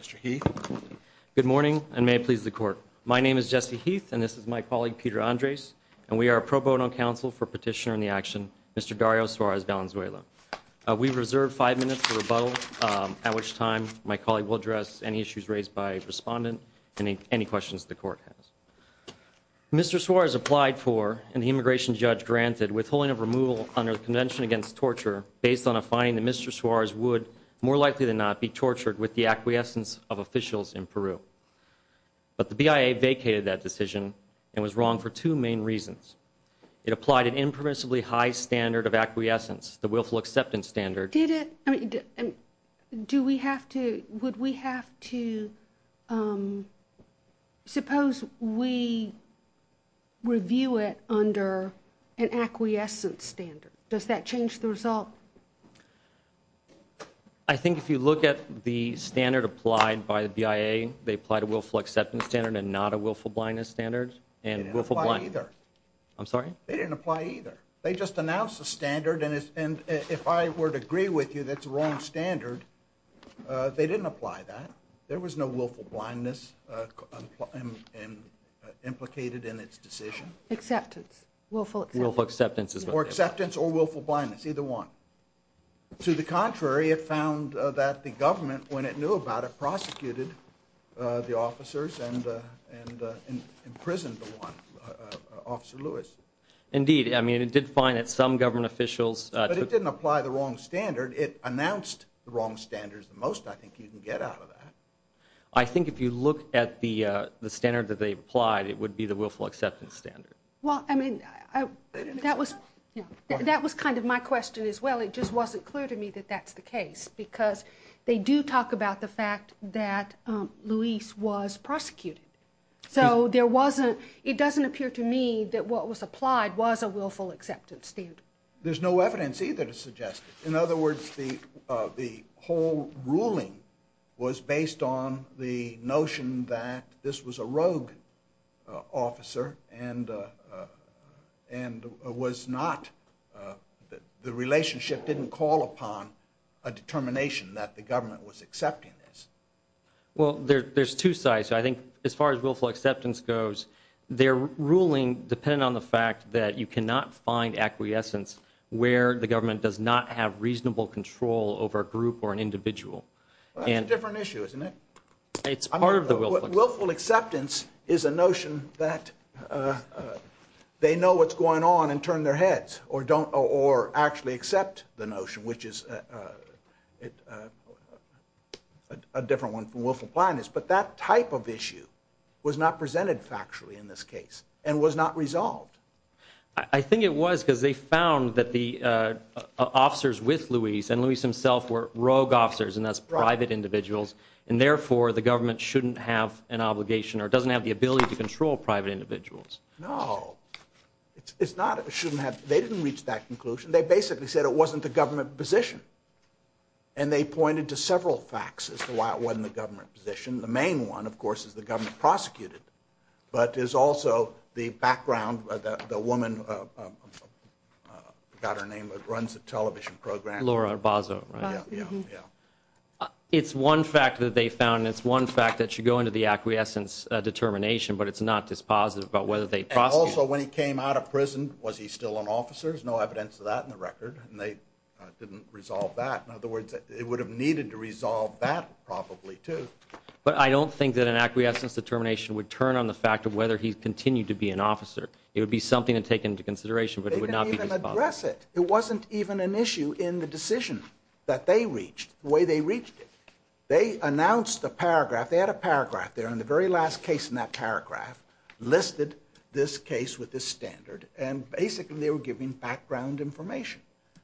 Mr. Heath. Good morning and may it please the court. My name is Jesse Heath and this is my colleague Peter Andres and we are a pro bono counsel for petitioner in the action Mr. Dario Suarez-Valenzuela. We reserve five minutes for rebuttal at which time my colleague will address any issues raised by respondent and any questions the court has. Mr. Suarez applied for and the immigration judge granted withholding of removal under the Convention Against Torture based on a finding that Mr. Suarez would more likely than not be tortured with the acquiescence of officials in Peru. But the BIA vacated that decision and was wrong for two main reasons. It applied an impermissibly high standard of acquiescence, the willful acceptance standard. Did it, I mean, do we have to, would we have to, suppose we review it under an acquiescence standard, does that I think if you look at the standard applied by the BIA, they applied a willful acceptance standard and not a willful blindness standard and willful blindness. They didn't apply either. I'm sorry? They didn't apply either. They just announced a standard and if I were to agree with you that's the wrong standard, they didn't apply that. There was no willful blindness implicated in its decision. Acceptance, willful acceptance. Willful acceptance or acceptance or willful blindness, either one. To the contrary, it found that the government, when it knew about it, prosecuted the officers and imprisoned Officer Lewis. Indeed, I mean, it did find that some government officials. But it didn't apply the wrong standard. It announced the wrong standards the most I think you can get out of that. I think if you look at the standard that they applied, it would be the willful acceptance standard. Well, I mean, that was kind of my question as well. It just wasn't clear to me that that's the case because they do talk about the fact that Lewis was prosecuted. So there wasn't, it doesn't appear to me that what was applied was a willful acceptance standard. There's no evidence either to suggest it. In other words, the whole ruling was based on the notion that this was a rogue officer and was not, the relationship didn't call upon a determination that the government was accepting this. Well, there's two sides. I think as far as willful acceptance goes, their ruling depended on the fact that you cannot find acquiescence where the government does not have reasonable control over a group or an individual. That's a different issue, isn't it? It's part of the willful. Willful acceptance is a notion that they know what's going on and turn their heads or don't or actually accept the notion, which is a different one from willful blindness. But that type of issue was not presented factually in this case and was not resolved. I think it was because they found that the officers with Lewis and Lewis himself were rogue officers and that's private individuals and therefore the government shouldn't have an obligation or doesn't have the ability to control private individuals. No, it's not. They didn't reach that conclusion. They basically said it wasn't the government position and they pointed to several facts as to why it wasn't the government position. The main one, of course, is the government prosecuted, but is also the background, the woman, I forgot her name, that runs the prohibition program. Laura Bozzo. It's one fact that they found. It's one fact that should go into the acquiescence determination, but it's not dispositive about whether they prosecuted him. Also, when he came out of prison, was he still an officer? There's no evidence of that in the record and they didn't resolve that. In other words, it would have needed to resolve that probably, too. But I don't think that an acquiescence determination would turn on the fact of whether he continued to be an officer. It would be something to take into consideration, but it would not be even an issue in the decision that they reached, the way they reached it. They announced a paragraph, they had a paragraph there in the very last case in that paragraph, listed this case with this standard, and basically they were giving background information.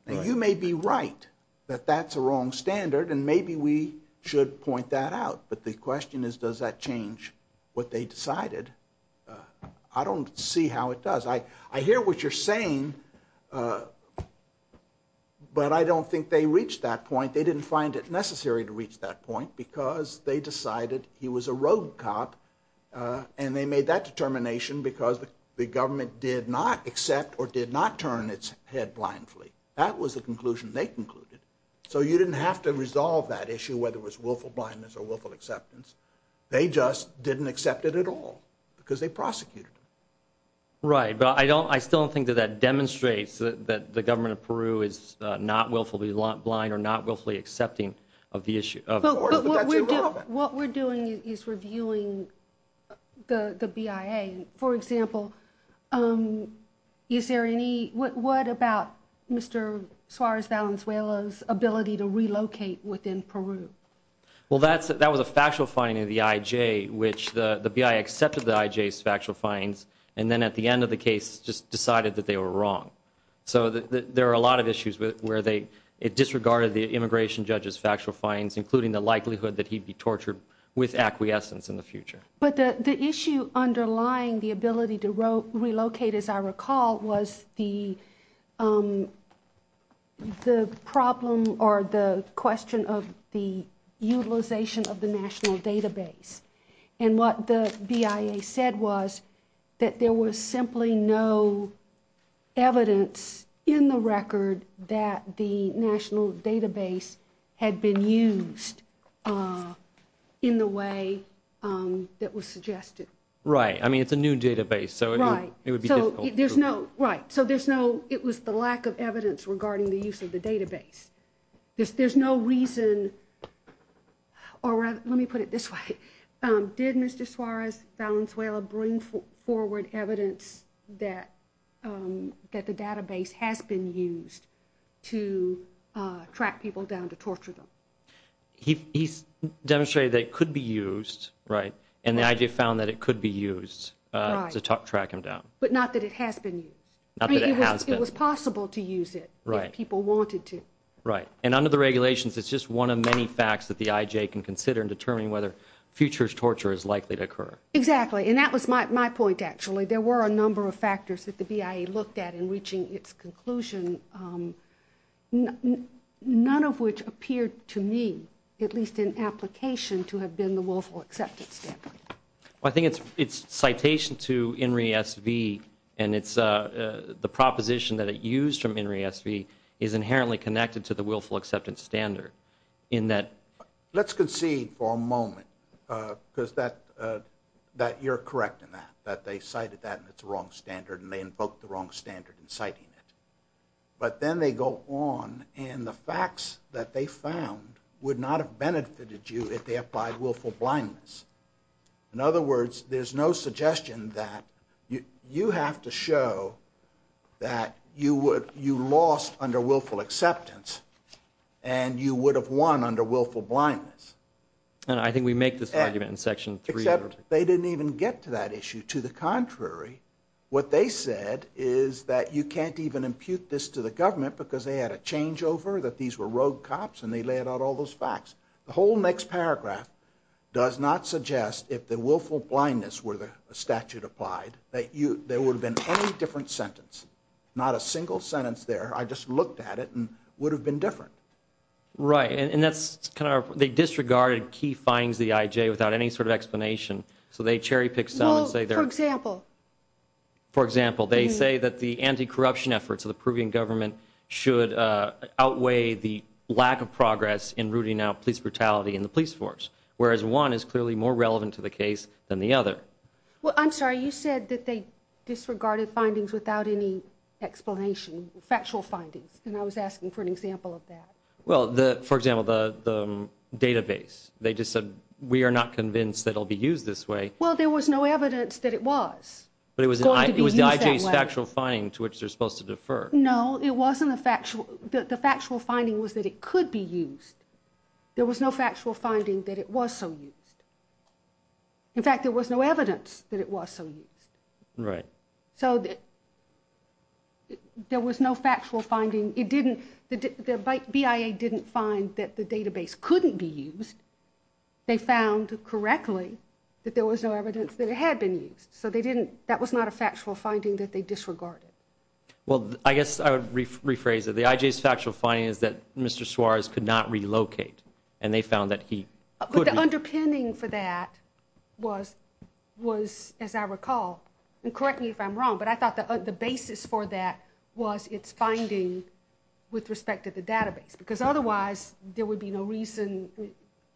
Now, you may be right that that's a wrong standard and maybe we should point that out, but the question is does that change what they decided? I don't see how it does. I hear what you're saying, but I don't think they reached that point. They didn't find it necessary to reach that point because they decided he was a rogue cop and they made that determination because the government did not accept or did not turn its head blindly. That was the conclusion they concluded. So you didn't have to resolve that issue whether it was willful blindness or willful acceptance. They just didn't accept it at all because they prosecuted him. Right, but I don't, I still don't think that that demonstrates that the government of Peru is not willfully blind or not willfully accepting of the issue. What we're doing is reviewing the BIA. For example, is there any, what about Mr. Suarez Valenzuela's ability to relocate within Peru? Well, that's, that was a factual finding of the IJ, which the BIA accepted the IJ's factual findings and then at the end of the case just decided that they were wrong. So there are a lot of issues where they disregarded the immigration judge's factual findings, including the likelihood that he'd be tortured with acquiescence in the future. But the issue underlying the ability to relocate, as I And what the BIA said was that there was simply no evidence in the record that the national database had been used in the way that was suggested. Right, I mean it's a new database, so it would be difficult. Right, so there's no, right, so there's no, it was the lack of evidence regarding the use of the database. There's no reason or let me put it this way, did Mr. Suarez Valenzuela bring forward evidence that that the database has been used to track people down to torture them? He demonstrated that it could be used, right, and the IJ found that it could be used to track him down. But not that it has been used. It was possible to use it, if people wanted to. Right, and under the regulations it's just one of many things that we can consider in determining whether futures torture is likely to occur. Exactly, and that was my point actually. There were a number of factors that the BIA looked at in reaching its conclusion, none of which appeared to me, at least in application, to have been the willful acceptance standard. I think it's citation to INRI SV and it's the proposition that it used from INRI SV is concede for a moment because that you're correct in that, that they cited that it's the wrong standard and they invoked the wrong standard in citing it. But then they go on and the facts that they found would not have benefited you if they applied willful blindness. In other words, there's no suggestion that you have to show that you lost under willful acceptance and you would have won under willful blindness. And I think we make this argument in section 3. Except they didn't even get to that issue. To the contrary, what they said is that you can't even impute this to the government because they had a changeover, that these were rogue cops and they laid out all those facts. The whole next paragraph does not suggest, if the willful blindness were the statute applied, that there would have been any different sentence. Not a single sentence there. I just looked at it and would have been different. Right. And that's kind of, they disregarded key findings of the IJ without any sort of explanation. So they cherry pick some and say they're... For example? For example, they say that the anti-corruption efforts of the Peruvian government should outweigh the lack of progress in rooting out police brutality in the police force. Whereas one is clearly more relevant to the case than the other. Well, I'm sorry, you said that they disregarded findings without any explanation. Factual findings. And I was asking for an example of that. Well, for example, the database. They just said, we are not convinced that it'll be used this way. Well, there was no evidence that it was. But it was the IJ's factual finding to which they're supposed to defer. No, it wasn't a factual, the factual finding was that it could be used. There was no factual finding that it was so used. In fact, there was no evidence that it was so used. Right. So there was no factual finding. It didn't, the BIA didn't find that the database couldn't be used. They found correctly that there was no evidence that it had been used. So they didn't, that was not a factual finding that they disregarded. Well, I guess I would rephrase it. The IJ's factual finding is that Mr. Suarez could not relocate and they found that he... But the underpinning for that was, was, as I recall, and correct me if I'm wrong, but I thought the basis for that was it's finding with respect to the database, because otherwise there would be no reason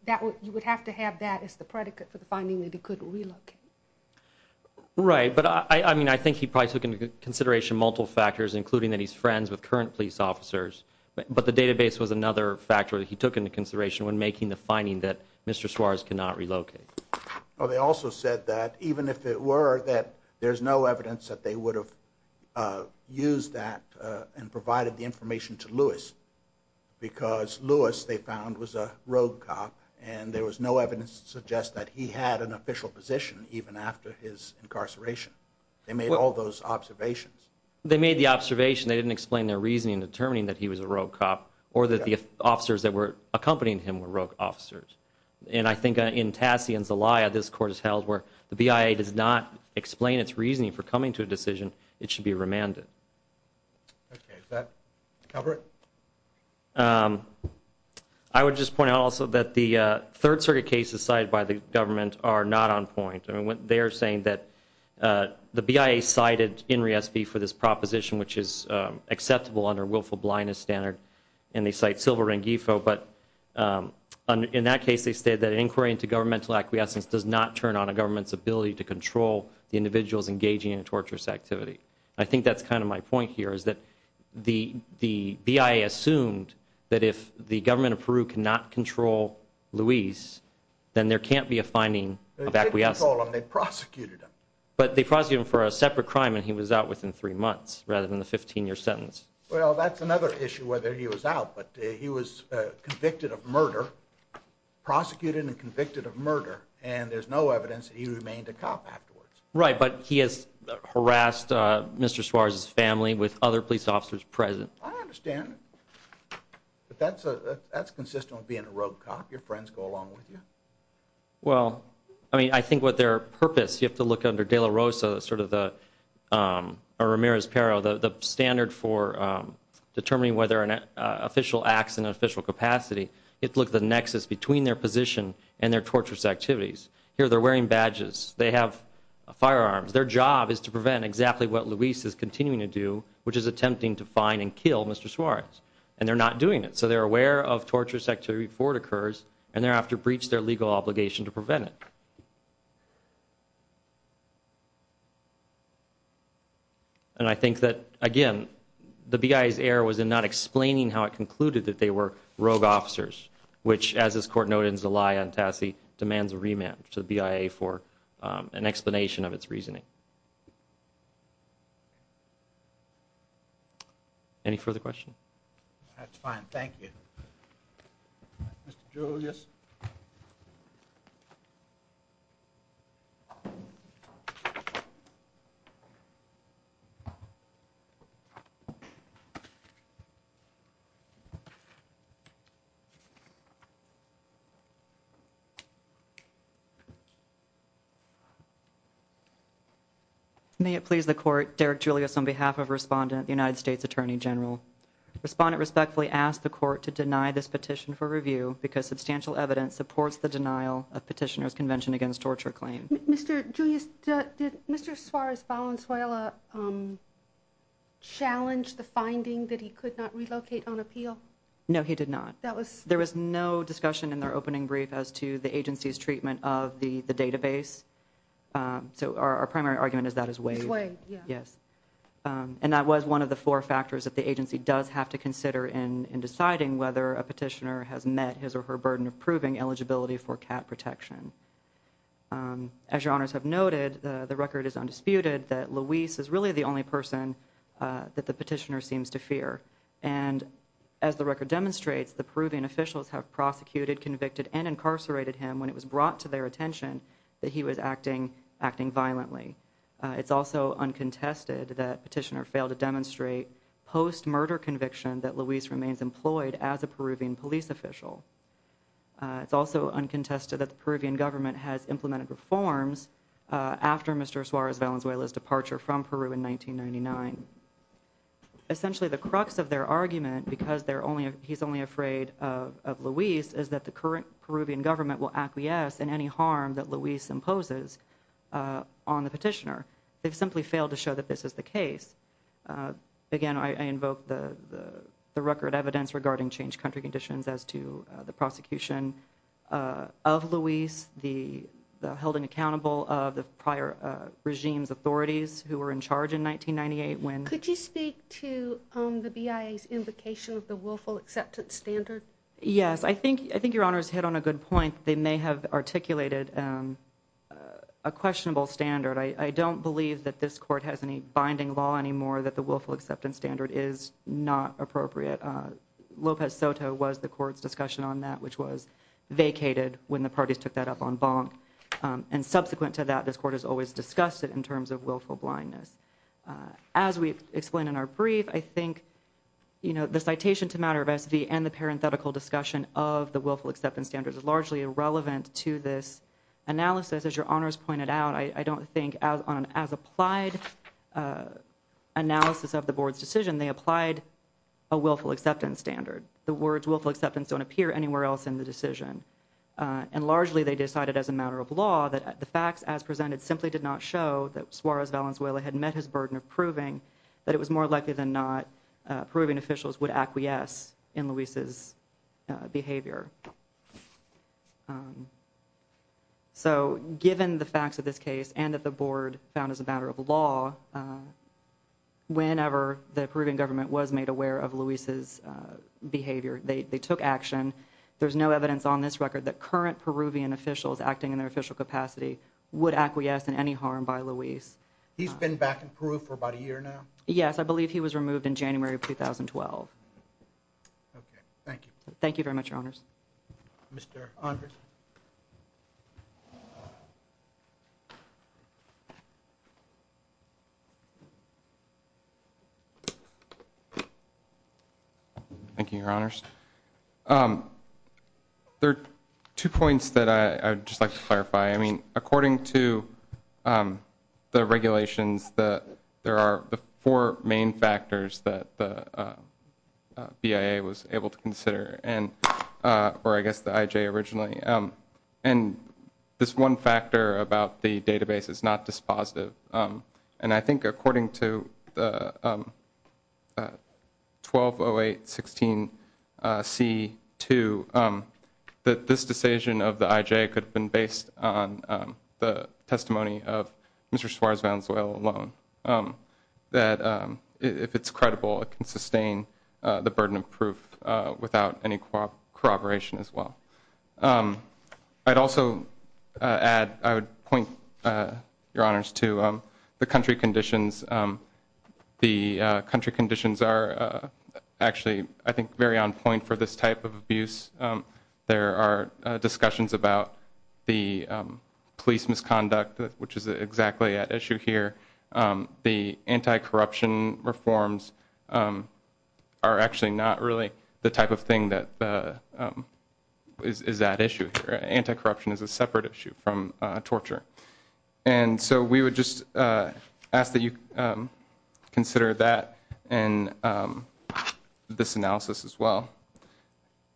that you would have to have that as the predicate for the finding that he couldn't relocate. Right. But I mean, I think he probably took into consideration multiple factors, including that he's friends with current police officers. But the database was another factor that he took into consideration when making the observation. They also said that even if it were, that there's no evidence that they would have used that and provided the information to Lewis, because Lewis, they found, was a rogue cop and there was no evidence to suggest that he had an official position even after his incarceration. They made all those observations. They made the observation. They didn't explain their reasoning in determining that he was a rogue cop or that the officers that were accompanying him were rogue officers. And I think in Tassie and elsewhere, the BIA does not explain its reasoning for coming to a decision. It should be remanded. Okay. Is that Albert? Um, I would just point out also that the third circuit cases cited by the government are not on point. I mean, they're saying that, uh, the BIA cited Henry SB for this proposition, which is acceptable under willful blindness standard, and they cite Silver and Gifo. But, um, in that case, they said that inquiry into governmental acquiescence does not turn on a government's ability to control the individuals engaging in a torturous activity. I think that's kind of my point here, is that the BIA assumed that if the government of Peru cannot control Lewis, then there can't be a finding of acquiescence. They prosecuted him. But they prosecuted him for a separate crime, and he was out within three months rather than the 15-year sentence. Well, that's another issue whether he was out, but he was convicted of murder, prosecuted and convicted of murder, and there's no evidence that he remained a cop afterwards. Right. But he has harassed Mr. Suarez's family with other police officers present. I understand. But that's a that's consistent with being a rogue cop. Your friends go along with you. Well, I mean, I think what their purpose you have to look under de la Rosa, sort of the, um, Ramirez-Pero, the standard for determining whether an official acts in an official capacity. It looked the nexus between their position and their torturous activities. Here, they're wearing badges. They have firearms. Their job is to prevent exactly what Lewis is continuing to do, which is attempting to find and kill Mr. Suarez, and they're not doing it. So they're aware of torturous activity before it occurs, and thereafter breach their legal obligation to prevent it. And I think that, again, the BIA's error was in not explaining how it concluded that they were rogue officers, which, as this court noted in Zelaya and Tassi, demands a remand to the BIA for an explanation of its reasoning. Any further questions? That's fine. Thank you. Mr. Julius. May it please the court, Derek Julius, on behalf of Respondent, the United States Attorney General. Respondent respectfully asked the court to deny this petition for review because substantial evidence supports the denial of Petitioner's Convention Against Torture Claim. Mr. Julius, did Mr. Suarez Valenzuela, um, challenge the finding that he could not I don't think so. I don't think so. I don't think so. I don't think so. I don't think so. No, he did not. That was, there was no discussion in their opening brief as to the agency's treatment of the, the database. Um, so our, our primary argument is that his way, yes. Um, and that was one of the four factors that the agency does have to consider in, in deciding whether a petitioner has met his or her burden of proving eligibility for cat protection. Um, as your honors have noted, uh, the record is undisputed that Luis is really the only person, uh, that the petitioner seems to fear. And as the record demonstrates, the Peruvian officials have prosecuted, convicted and incarcerated him when it was brought to their attention that he was acting, acting violently. Uh, it's also uncontested that petitioner failed to demonstrate post murder conviction that Luis remains employed as a Peruvian police official. Uh, it's also uncontested that the Peruvian government has implemented reforms, uh, after Mr. Suarez Valenzuela departure from Peru in 1999. Essentially the crux of their argument because they're only, he's only afraid of, of Luis is that the current Peruvian government will acquiesce in any harm that Luis imposes, uh, on the petitioner. They've simply failed to show that this is the case. Uh, again, I invoke the, the, the record evidence regarding changed country conditions as to the prosecution, uh, of Luis, the, the held in accountable of prior, uh, regimes, authorities who were in charge in 1998. When could you speak to, um, the BIA's invocation of the willful acceptance standard? Yes. I think, I think your honor's hit on a good point. They may have articulated, um, uh, a questionable standard. I don't believe that this court has any binding law anymore that the willful acceptance standard is not appropriate. Uh, Lopez Soto was the court's discussion on that, which was vacated when the parties took that up on bonk. Um, and subsequent to that, this court has always discussed it in terms of willful blindness. Uh, as we explained in our brief, I think, you know, the citation to matter of SV and the parenthetical discussion of the willful acceptance standards is largely irrelevant to this analysis. As your honors pointed out, I don't think as on, as applied, uh, analysis of the board's decision, they applied a willful acceptance standard. The words willful acceptance don't appear anywhere else in the decision. Uh, and largely they decided as a matter of law that the facts as presented simply did not show that Suarez Valenzuela had met his burden of proving that it was more likely than not, uh, proving officials would acquiesce in Luis's, uh, behavior. Um, so given the facts of this case and that the board found as a matter of law, uh, whenever the Peruvian government was made aware of Luis's, uh, behavior, they took action. There's no evidence on this record that current Peruvian officials acting in their official capacity would acquiesce in any harm by Luis. He's been back in Peru for about a year now. Yes. I believe he was removed in January of 2012. Okay. Thank you. Thank you very much. Your honors. Mr. Thank you, your honors. Um, there are two points that I would just like to clarify. I mean, according to, um, the regulations, the, there are the four main factors that the, uh, uh, BIA was able to consider and, uh, or I guess the IJ originally, um, and this one factor about the database is not dispositive. Um, and I think according to the, um, uh, 1208 16, uh, C two, um, that this decision of the IJ could have been based on, um, the testimony of Mr. Suarez Valenzuela alone, um, that, um, if it's credible, it can sustain, uh, the burden of proof, uh, without any cooperation as well. Um, I'd also, uh, add, I would point, uh, your honors to, um, the country conditions, um, the, uh, country conditions are, uh, actually I think very on point for this type of abuse. Um, there are discussions about the, um, police misconduct, which is exactly at issue here. Um, the anti-corruption reforms, um, are actually not really the type of thing that, uh, um, is, is that issue here? Anti-corruption is a separate issue from, uh, torture. And so we would just, uh, ask that you, um, consider that and, um, this analysis as well,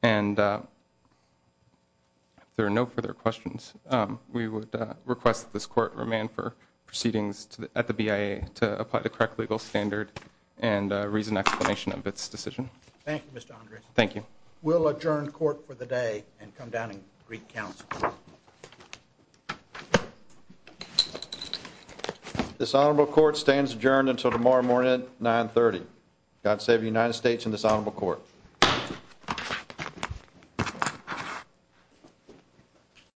and, uh, there are no further questions. Um, we would request that this court remain for proceedings at the BIA to apply the correct legal standard and a reason explanation of its decision. Thank you, Mr. Andrews. Thank you. We'll adjourn court for the day and come down and Greek council. This honorable court stands adjourned until tomorrow morning at 9 30. God save the United States in this honorable court.